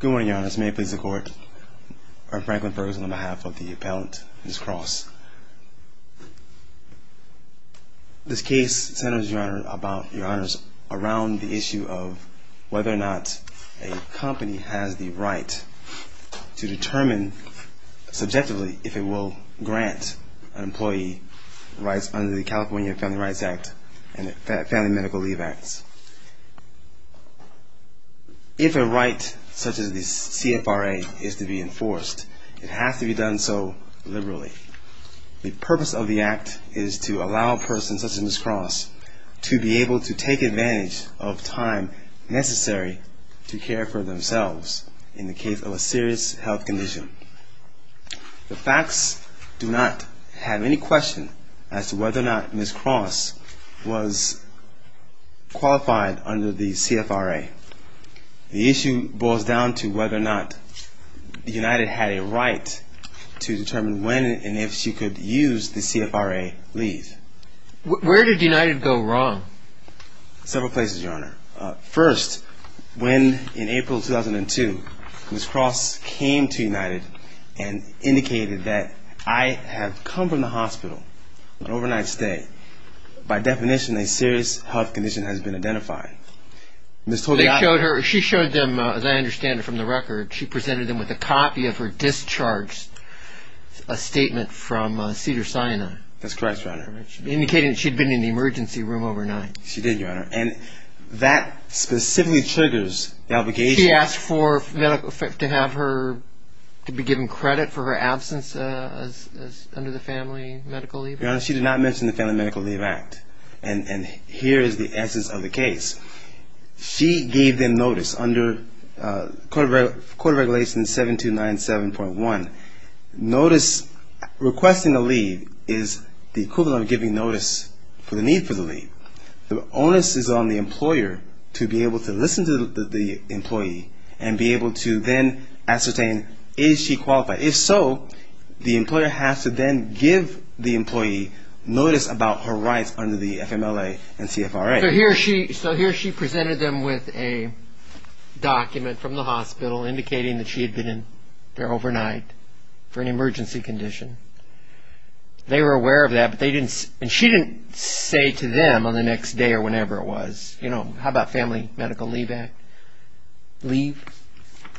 Good morning, Your Honors. May it please the Court, I'm Franklin Ferguson on behalf of the Appellant, Ms. Cross. This case centers, Your Honor, about, Your Honors, around the issue of whether or not a company has the right to determine, subjectively, if it will grant an employee rights under the California Family Rights Act and the Family Medical Leave Acts. If a right, such as the CFRA, is to be enforced, it has to be done so liberally. The purpose of the Act is to allow a person, such as Ms. Cross, to be able to take advantage of time necessary to care for themselves in the case of a serious health condition. The facts do not have any question as to whether or not Ms. Cross was qualified under the CFRA. The issue boils down to whether or not United had a right to determine when and if she could use the CFRA leave. Where did United go wrong? Several places, Your Honor. First, when, in April 2002, Ms. Cross came to United and indicated that, I have come from the hospital, an overnight stay. By definition, a serious health condition has been identified. They showed her, she showed them, as I understand it from the record, she presented them with a copy of her discharge, a statement from Cedars-Sinai. That's correct, Your Honor. Indicating that she'd been in the emergency room overnight. She did, Your Honor. And that specifically triggers the obligation... To have her, to be given credit for her absence under the Family Medical Leave Act? Your Honor, she did not mention the Family Medical Leave Act. And here is the essence of the case. She gave them notice under Code of Regulations 7297.1. Notice, requesting a leave, is the equivalent of giving notice for the need for the leave. The onus is on the employer to be able to listen to the case and be able to then ascertain, is she qualified? If so, the employer has to then give the employee notice about her rights under the FMLA and CFRA. So here she presented them with a document from the hospital indicating that she had been in there overnight for an emergency condition. They were aware of that, but they didn't... And she didn't say to them on the next day or whenever it was, you know, how about Family Medical Leave Act?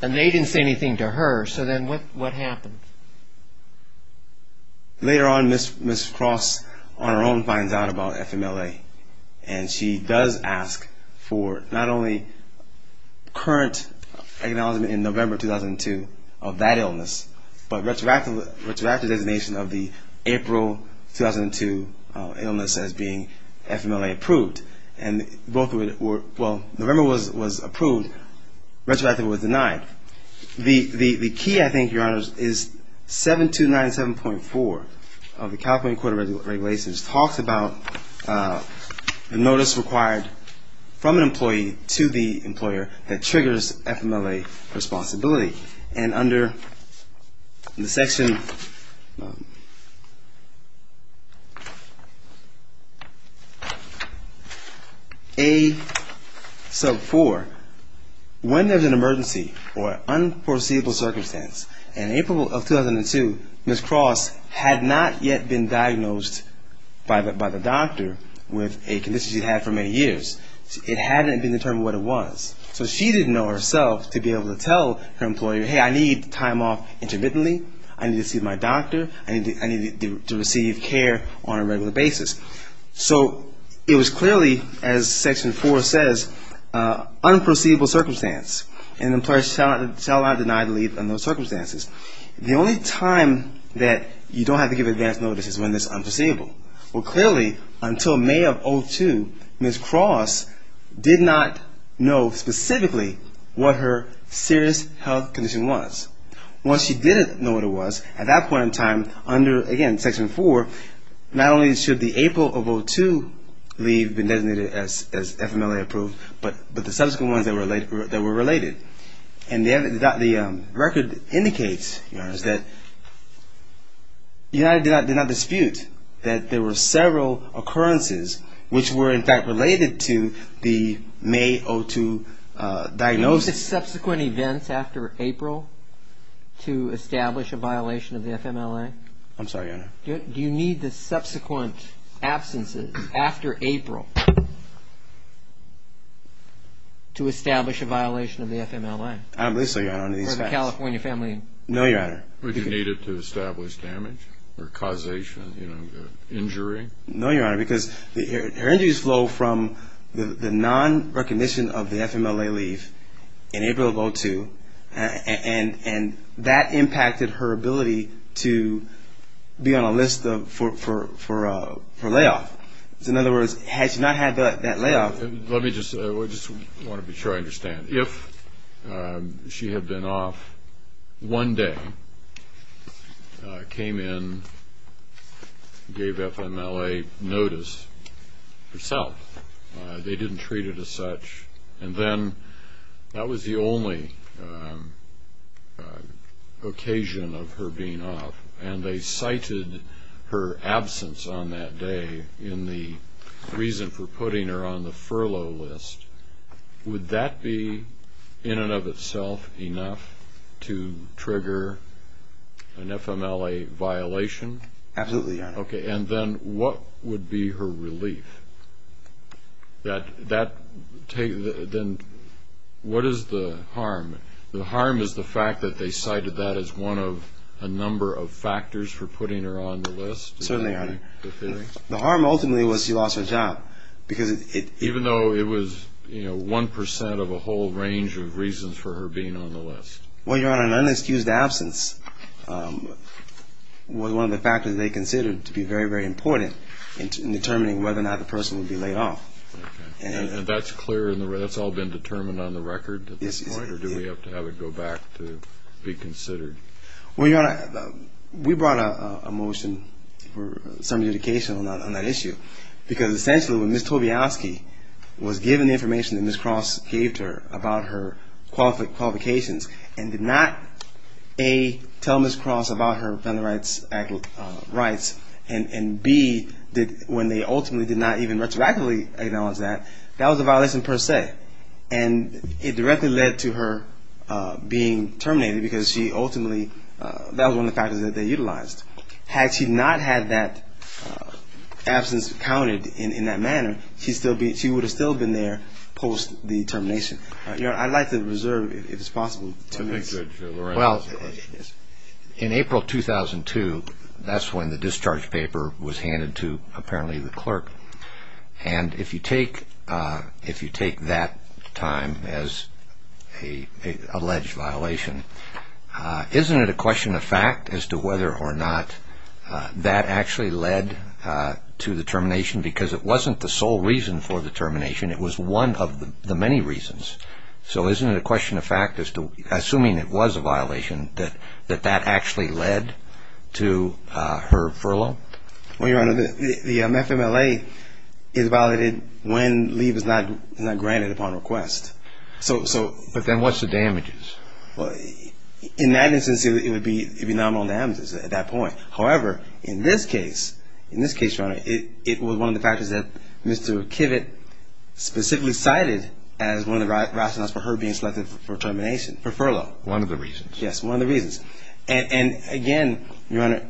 And they didn't say anything to her. So then what happened? Later on, Ms. Cross, on her own, finds out about FMLA. And she does ask for not only current acknowledgement in November 2002 of that illness, but retroactive designation of the April 2002 illness as being FMLA approved. And both were, well, November was approved. Retroactive was denied. The key, I think, Your Honors, is 7297.4 of the California Court of Regulations talks about the notice required from an employee to the employer that triggers FMLA responsibility. And under the section A sub 4, when there's an emergency or unforeseeable circumstance, in April of 2002, Ms. Cross had not yet been diagnosed by the doctor with a condition she'd had for many years. It hadn't been determined what it was. So she didn't know herself to be able to tell her employer, hey, I need time off intermittently. I need to see my doctor. I need to receive care on a regular basis. So it was clearly, as Section 4 says, unforeseeable circumstance, and employers shall not deny the leave under those circumstances. The only time that you don't have to give advance notice is when it's unforeseeable. Well, clearly, until May of 2002, Ms. Cross did not know specifically what her serious health condition was. Once she did know what it was, at that point in time, under, again, Section 4, not only should the April of 2002 leave have been designated as FMLA approved, but the subsequent ones that were related. And the record indicates, Your Honor, that United did not dispute that there were several occurrences which were, in fact, related to the May of 2002 diagnosis. Do you need the subsequent events after April to establish a violation of the FMLA? I'm sorry, Your Honor. Do you need the subsequent absences after April to establish a violation of the FMLA? I'm listening, Your Honor. For the California family? No, Your Honor. Would you need it to establish damage or causation, you know, injury? No, Your Honor, because her injuries flow from the non-recognition of the FMLA leave in April of 2002, and that impacted her ability to be on a list for layoff. In other words, had she not had that layoff... Let me just, I just want to be sure I understand. If she had been off one day, came in, gave FMLA notice herself, they didn't treat it as such, and then that was the only occasion of her being off, and they cited her absence on that day in the reason for putting her on the furlough list, would that be, in and of itself, enough to trigger an FMLA violation? Absolutely, Your Honor. Okay, and then what would be her relief? Then what is the harm? The harm is the fact that they cited that as one of a number of factors for putting her on the list? Certainly, Your Honor. The harm ultimately was she lost her job, because it... Even though it was, you know, 1% of a whole range of reasons for her being on the list. Well, Your Honor, an unexcused absence was one of the factors they considered to be very, very important in determining whether or not the person would be laid off. Okay, and that's clear, that's all been determined on the record at this point, or do we have to have it go back to be considered? Well, Your Honor, we brought a motion for some indication on that issue, because essentially when Ms. Tobialski was given the information that Ms. Cross gave to her about her qualifications and did not, A, tell Ms. Cross about her federal rights and, B, when they ultimately did not even retroactively acknowledge that, that was a violation per se, and it directly led to her being terminated, because she ultimately, that was one of the factors that they utilized. Had she not had that absence counted in that manner, she would have still been there post the termination. Your Honor, I'd like to reserve, if it's possible, two minutes. Well, in April 2002, that's when the discharge paper was handed to, apparently, the clerk, and if you take that time as an alleged violation, isn't it a question of fact as to whether or not that actually led to the termination? Because it wasn't the sole reason for the termination, it was one of the many reasons. So isn't it a question of fact as to, assuming it was a violation, that that actually led to her furlough? Well, Your Honor, the FMLA is violated when leave is not granted upon request. But then what's the damages? In that instance, it would be nominal damages at that point. However, in this case, in this case, Your Honor, it was one of the factors that Mr. Kivett specifically cited as one of the rationales for her being selected for termination, for furlough. One of the reasons. Yes, one of the reasons. And again, Your Honor,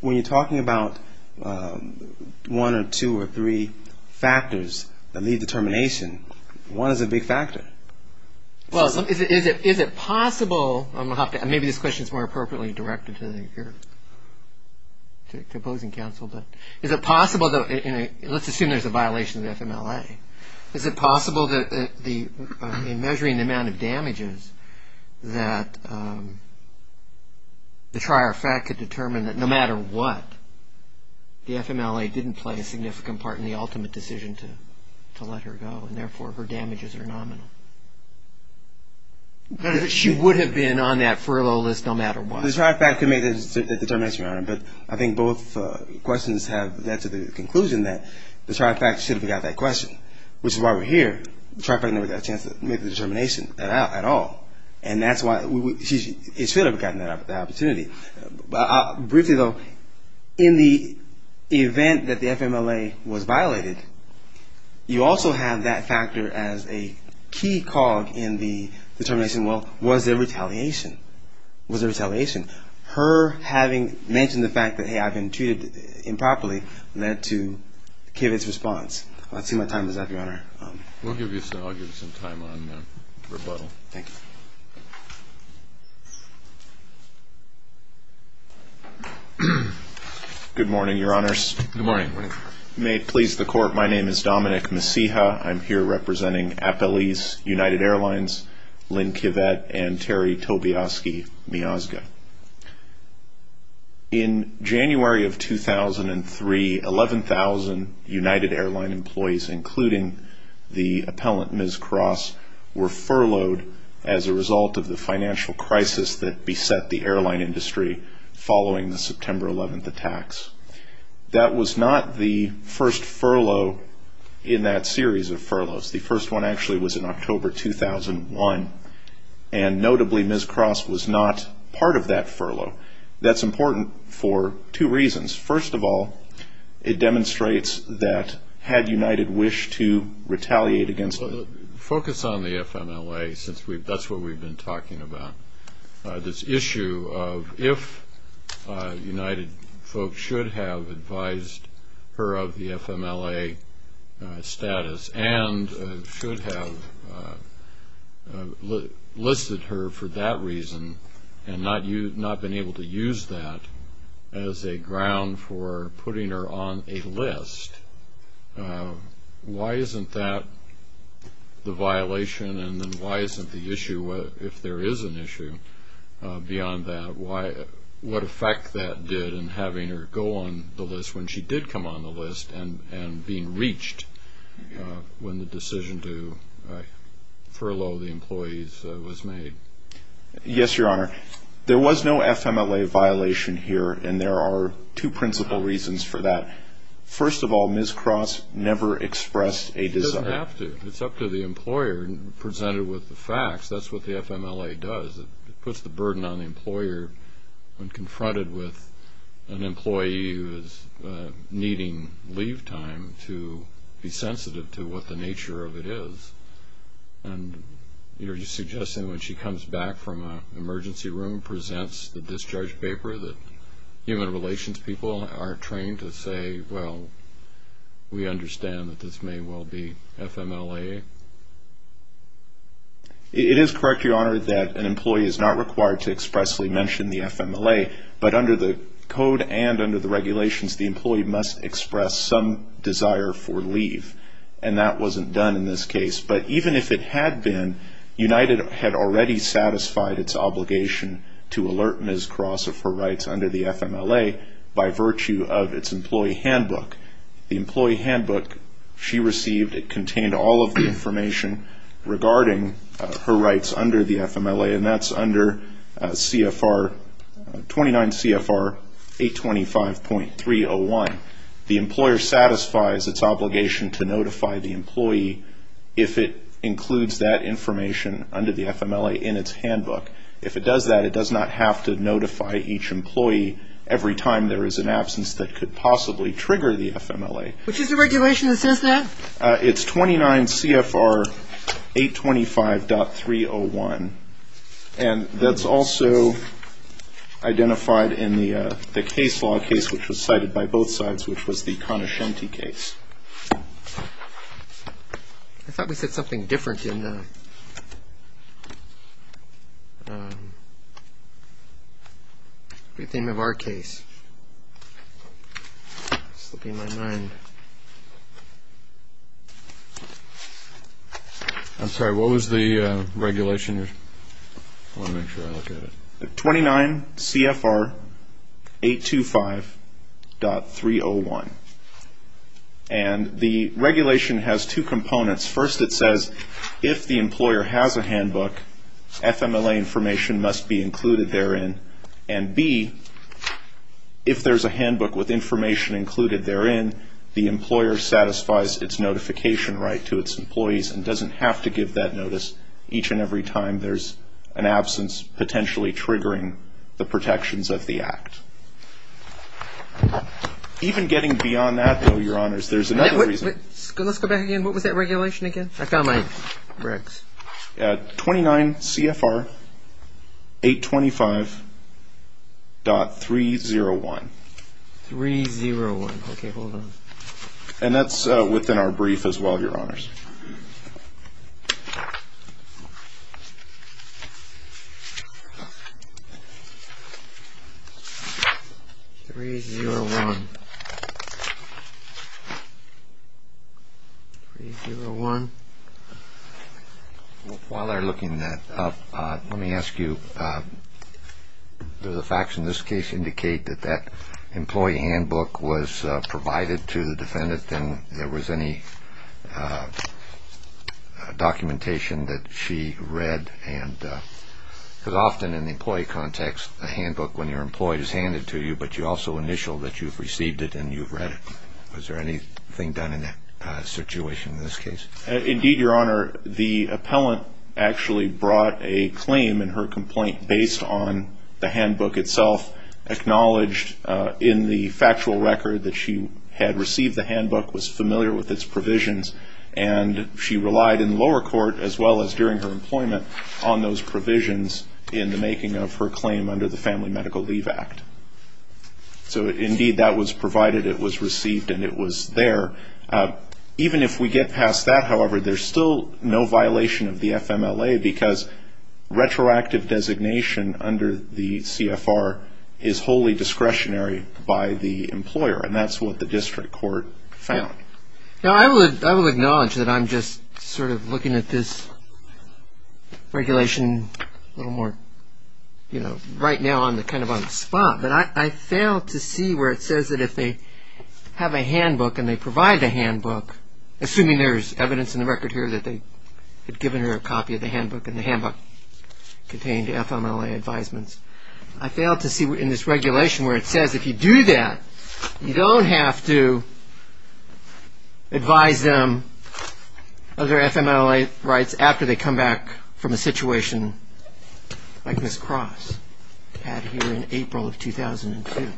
when you're talking about one or two or three factors that lead to termination, one is a big factor. Well, is it possible, and maybe this question is more appropriately directed to the opposing counsel, but is it possible, let's assume there's a violation of the FMLA, is it possible that in measuring the amount of damages that the trier of fact could determine that no matter what, the FMLA didn't play a significant part in the ultimate decision to let her go, and therefore her damages are nominal? She would have been on that furlough list no matter what. Well, the trier of fact could make that determination, Your Honor, but I think both questions have led to the conclusion that the trier of fact should have got that question, which is why we're here. The trier of fact never got a chance to make the determination at all, and that's why she should have gotten that opportunity. Briefly, though, in the event that the FMLA was violated, you also have that factor as a key cog in the determination, well, was there retaliation? Was there retaliation? Her having mentioned the fact that, hey, I've been treated improperly led to Kivitz's response. Let's see what time is up, Your Honor. I'll give you some time on rebuttal. Thank you. Good morning, Your Honors. Good morning. May it please the Court, my name is Dominic Messija. I'm here representing Appelese United Airlines, Lynn Kivett, and Terry Tobiaski-Miyazga. In January of 2003, 11,000 United Airline employees, including the appellant, Ms. Cross, were furloughed as a result of the financial crisis that beset the airline industry following the September 11th attacks. That was not the first furlough in that series of furloughs. The first one actually was in October 2001, and notably, Ms. Cross was not part of that furlough. That's important for two reasons. First of all, it demonstrates that had United wished to retaliate against it. Focus on the FMLA, since that's what we've been talking about. This issue of if United folks should have advised her of the FMLA status and should have listed her for that reason and not been able to use that as a ground for putting her on a list, why isn't that the violation, and then why isn't the issue, if there is an issue beyond that, what effect that did in having her go on the list when she did come on the list and being reached when the decision to furlough the employees was made? Yes, Your Honor. There was no FMLA violation here, and there are two principal reasons for that. First of all, Ms. Cross never expressed a desire. She doesn't have to. It's up to the employer. Presented with the facts, that's what the FMLA does. It puts the burden on the employer when confronted with an employee who is needing leave time to be sensitive to what the nature of it is. And you're suggesting when she comes back from an emergency room, presents the discharge paper that human relations people are trained to say, well, we understand that this may well be FMLA? It is correct, Your Honor, that an employee is not required to expressly mention the FMLA, but under the code and under the regulations, the employee must express some desire for leave, and that wasn't done in this case. But even if it had been, United had already satisfied its obligation to alert Ms. Cross of her rights under the FMLA by virtue of its employee handbook. The employee handbook she received, it contained all of the information regarding her rights under the FMLA, and that's under 29 CFR 825.301. The employer satisfies its obligation to notify the employee if it includes that information under the FMLA in its handbook. If it does that, it does not have to notify each employee every time there is an absence that could possibly trigger the FMLA. Which is the regulation that says that? It's 29 CFR 825.301, and that's also identified in the case law case which was cited by both sides, which was the Conoscenti case. I thought we said something different in the name of our case. It's slipping my mind. Okay. I'm sorry, what was the regulation? I want to make sure I look at it. 29 CFR 825.301. And the regulation has two components. First, it says if the employer has a handbook, FMLA information must be included therein, and B, if there's a handbook with information included therein, the employer satisfies its notification right to its employees and doesn't have to give that notice each and every time there's an absence potentially triggering the protections of the act. Even getting beyond that, though, Your Honors, there's another reason. Let's go back again. What was that regulation again? I found my bricks. 29 CFR 825.301. 301. Okay, hold on. And that's within our brief as well, Your Honors. 301. 301. While they're looking that up, let me ask you, do the facts in this case indicate that that employee handbook was provided to the defendant and there was any documentation that she read? Because often in the employee context, a handbook when you're employed is handed to you, but you also initial that you've received it and you've read it. Was there anything done in that situation in this case? Indeed, Your Honor. The appellant actually brought a claim in her complaint based on the handbook itself, acknowledged in the factual record that she had received the handbook, was familiar with its provisions, and she relied in lower court as well as during her employment on those provisions in the making of her claim under the Family Medical Leave Act. So, indeed, that was provided, it was received, and it was there. Even if we get past that, however, there's still no violation of the FMLA because retroactive designation under the CFR is wholly discretionary by the employer, and that's what the district court found. Okay. Now, I will acknowledge that I'm just sort of looking at this regulation a little more, you know, right now I'm kind of on the spot, but I fail to see where it says that if they have a handbook and they provide the handbook, assuming there's evidence in the record here that they had given her a copy of the handbook and the handbook contained FMLA advisements, I fail to see in this regulation where it says if you do that, you don't have to advise them of their FMLA rights after they come back from a situation like Ms. Cross had here in April of 2002.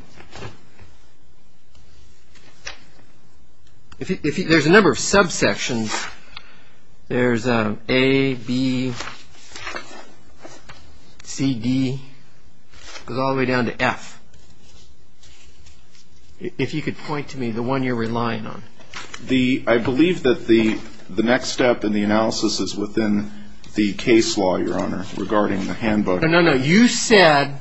There's a number of subsections. There's A, B, C, D. It goes all the way down to F. If you could point to me the one you're relying on. I believe that the next step in the analysis is within the case law, Your Honor, regarding the handbook. No, no, you said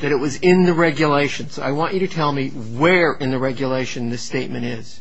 that it was in the regulation. So I want you to tell me where in the regulation this statement is.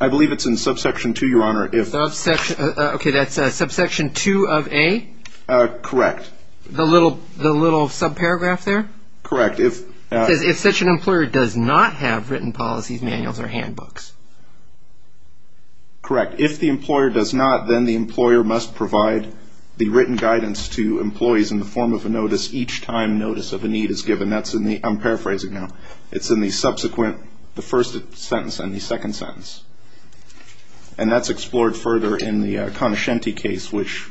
I believe it's in subsection 2, Your Honor. Okay, that's subsection 2 of A? Correct. The little subparagraph there? Correct. It says if such an employer does not have written policies, manuals, or handbooks. Correct. If the employer does not, then the employer must provide the written guidance to employees in the form of a notice each time notice of a need is given. I'm paraphrasing now. It's in the subsequent, the first sentence and the second sentence. And that's explored further in the Conoscenti case, which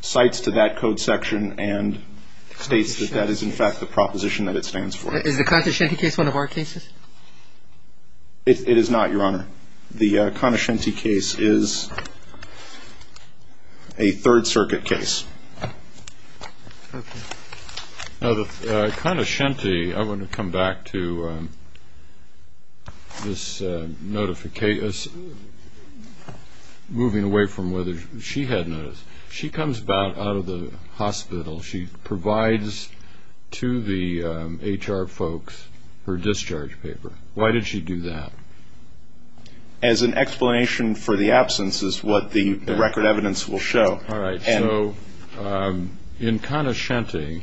cites to that code section and states that that is, in fact, the proposition that it stands for. Is the Conoscenti case one of our cases? It is not, Your Honor. The Conoscenti case is a Third Circuit case. Okay. Now, the Conoscenti, I want to come back to this notification, moving away from whether she had notice. She comes about out of the hospital. She provides to the HR folks her discharge paper. Why did she do that? As an explanation for the absence is what the record evidence will show. All right. So in Conoscenti,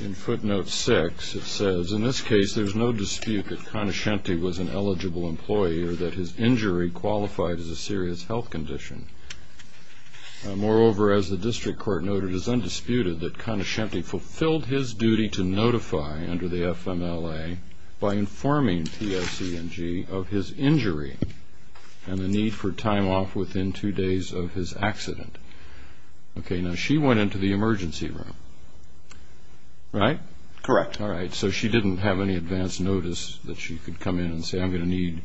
in footnote 6, it says, in this case there's no dispute that Conoscenti was an eligible employee or that his injury qualified as a serious health condition. Moreover, as the district court noted, it is undisputed that Conoscenti fulfilled his duty to notify under the FMLA by informing TOC and G of his injury and the need for time off within two days of his accident. Okay. Now, she went into the emergency room, right? Correct. All right. So she didn't have any advance notice that she could come in and say, I'm going to need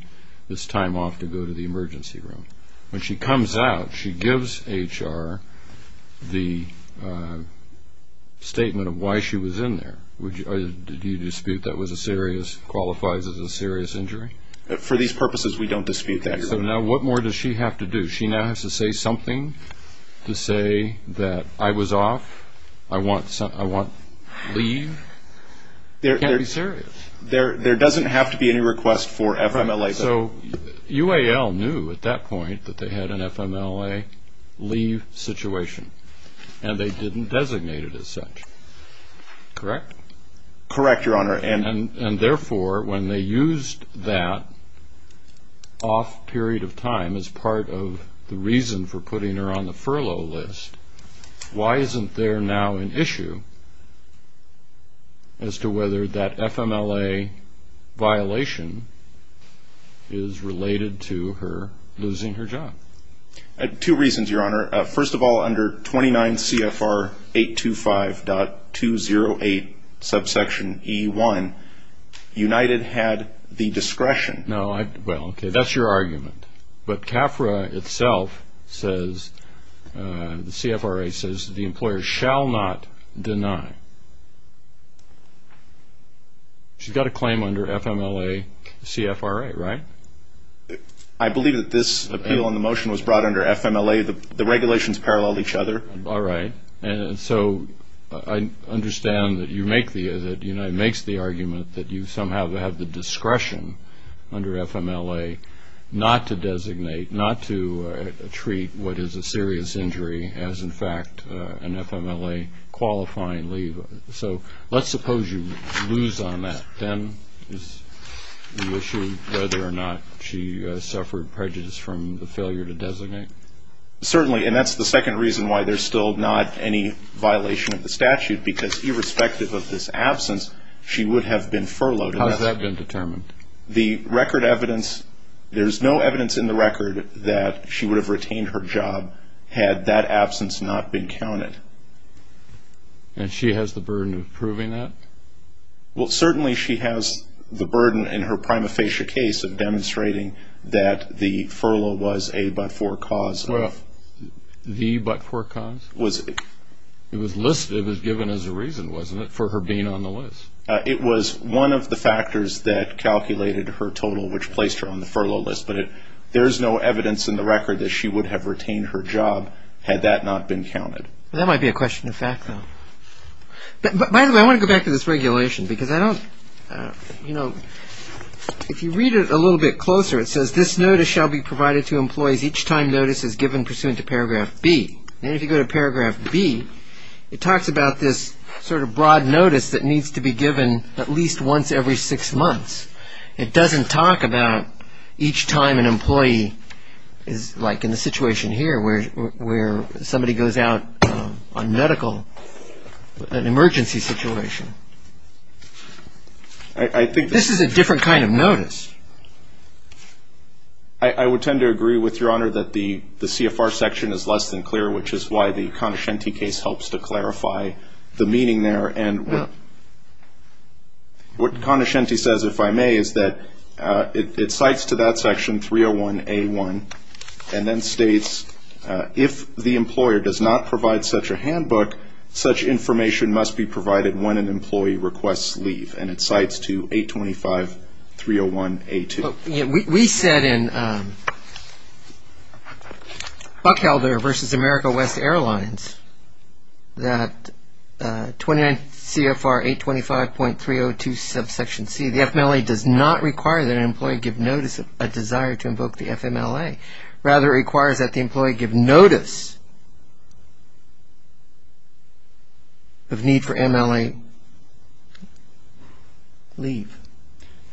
this time off to go to the emergency room. When she comes out, she gives HR the statement of why she was in there. Did you dispute that qualifies as a serious injury? For these purposes, we don't dispute that. So now what more does she have to do? She now has to say something to say that I was off, I want leave. It can't be serious. There doesn't have to be any request for FMLA. So UAL knew at that point that they had an FMLA leave situation, and they didn't designate it as such, correct? Correct, Your Honor. And therefore, when they used that off period of time as part of the reason for putting her on the furlough list, why isn't there now an issue as to whether that FMLA violation is related to her losing her job? Two reasons, Your Honor. First of all, under 29 CFR 825.208, subsection E1, United had the discretion. Well, okay, that's your argument. But CAFRA itself says, the CFRA says, the employer shall not deny. She's got a claim under FMLA CFRA, right? I believe that this appeal and the motion was brought under FMLA. The regulations paralleled each other. All right. And so I understand that United makes the argument that you somehow have the discretion under FMLA not to designate, not to treat what is a serious injury as, in fact, an FMLA qualifying leave. So let's suppose you lose on that. Then is the issue whether or not she suffered prejudice from the failure to designate? Certainly. And that's the second reason why there's still not any violation of the statute, because irrespective of this absence, she would have been furloughed. How has that been determined? The record evidence, there's no evidence in the record that she would have retained her job had that absence not been counted. And she has the burden of proving that? Well, certainly she has the burden in her prima facie case of demonstrating that the furlough was a but-for cause. The but-for cause? It was listed. It was given as a reason, wasn't it, for her being on the list? It was one of the factors that calculated her total, which placed her on the furlough list. But there's no evidence in the record that she would have retained her job had that not been counted. That might be a question of fact, though. By the way, I want to go back to this regulation, because I don't, you know, if you read it a little bit closer, it says this notice shall be provided to employees each time notice is given pursuant to Paragraph B. And if you go to Paragraph B, it talks about this sort of broad notice that needs to be given at least once every six months. It doesn't talk about each time an employee is, like in the situation here where somebody goes out on medical, an emergency situation. This is a different kind of notice. I would tend to agree with Your Honor that the CFR section is less than clear, which is why the Conaschenti case helps to clarify the meaning there. And what Conaschenti says, if I may, is that it cites to that section 301A1, and then states if the employer does not provide such a handbook, such information must be provided when an employee requests leave. And it cites to 825301A2. We said in Buckhelder v. America West Airlines that 29 CFR 825.302 subsection C, the FMLA does not require that an employee give notice of a desire to invoke the FMLA. Rather, it requires that the employee give notice of need for MLA leave.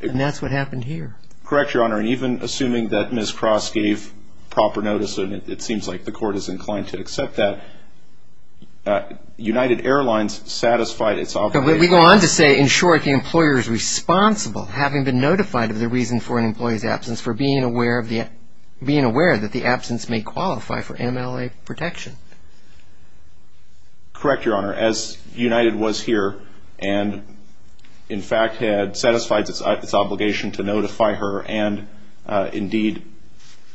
And that's what happened here. Correct, Your Honor. And even assuming that Ms. Cross gave proper notice, and it seems like the court is inclined to accept that, United Airlines satisfied its obligation. We go on to say, in short, the employer is responsible, having been notified of the reason for an employee's absence, for being aware that the absence may qualify for MLA protection. Correct, Your Honor. As United was here, and in fact had satisfied its obligation to notify her, and indeed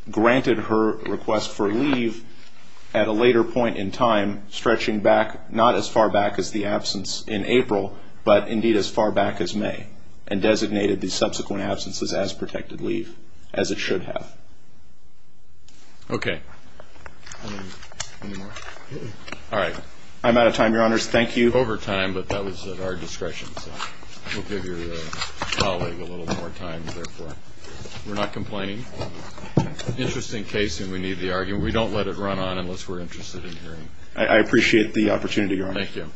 granted her request for leave at a later point in time, stretching back not as far back as the absence in April, but indeed as far back as May, and designated the subsequent absences as protected leave, as it should have. Okay. Any more? All right. I'm out of time, Your Honors. Thank you. Overtime, but that was at our discretion, so we'll give your colleague a little more time, therefore. We're not complaining. Interesting case, and we need the argument. We don't let it run on unless we're interested in hearing. I appreciate the opportunity, Your Honor. Thank you.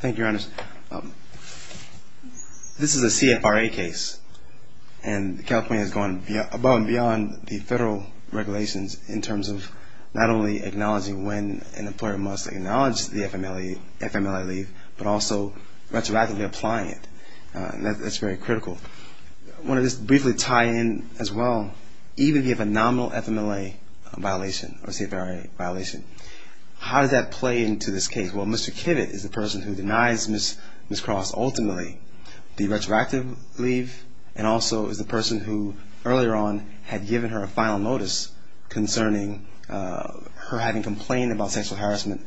Thank you, Your Honor. Your Honor, this is a CFRA case, and California has gone above and beyond the federal regulations in terms of not only acknowledging when an employer must acknowledge the FMLA leave, but also retroactively applying it. That's very critical. I want to just briefly tie in as well. Even if you have a nominal FMLA violation or CFRA violation, how does that play into this case? Well, Mr. Kivitt is the person who denies Ms. Cross ultimately the retroactive leave and also is the person who earlier on had given her a final notice concerning her having complained about sexual harassment,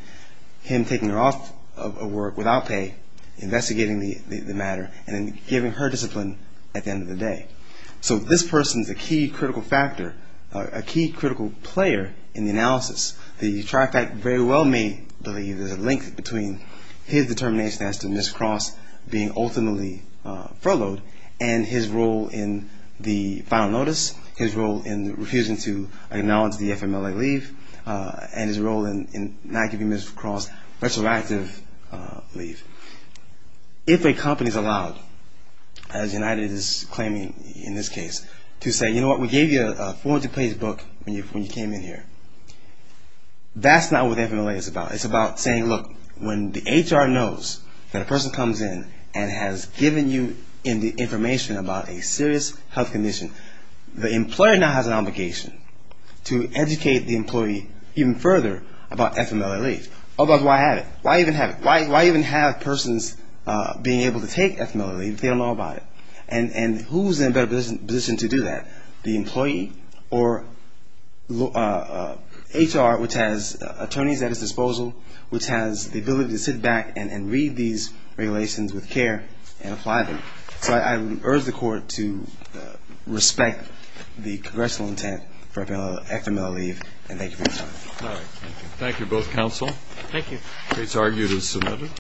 him taking her off of work without pay, investigating the matter, and then giving her discipline at the end of the day. So this person is a key critical factor, a key critical player in the analysis. The TRIFAC very well may believe there's a link between his determination as to Ms. Cross being ultimately furloughed and his role in the final notice, his role in refusing to acknowledge the FMLA leave, and his role in not giving Ms. Cross retroactive leave. If a company is allowed, as United is claiming in this case, to say, you know what, we gave you a form to place book when you came in here. That's not what FMLA is about. It's about saying, look, when the HR knows that a person comes in and has given you information about a serious health condition, the employer now has an obligation to educate the employee even further about FMLA leave. Otherwise, why have it? Why even have it? Why even have persons being able to take FMLA leave if they don't know about it? And who is in a better position to do that, the employee or HR, which has attorneys at its disposal, which has the ability to sit back and read these regulations with care and apply them? So I would urge the Court to respect the congressional intent for FMLA leave, and thank you for your time. Thank you, both counsel. Thank you. The case argued is submitted.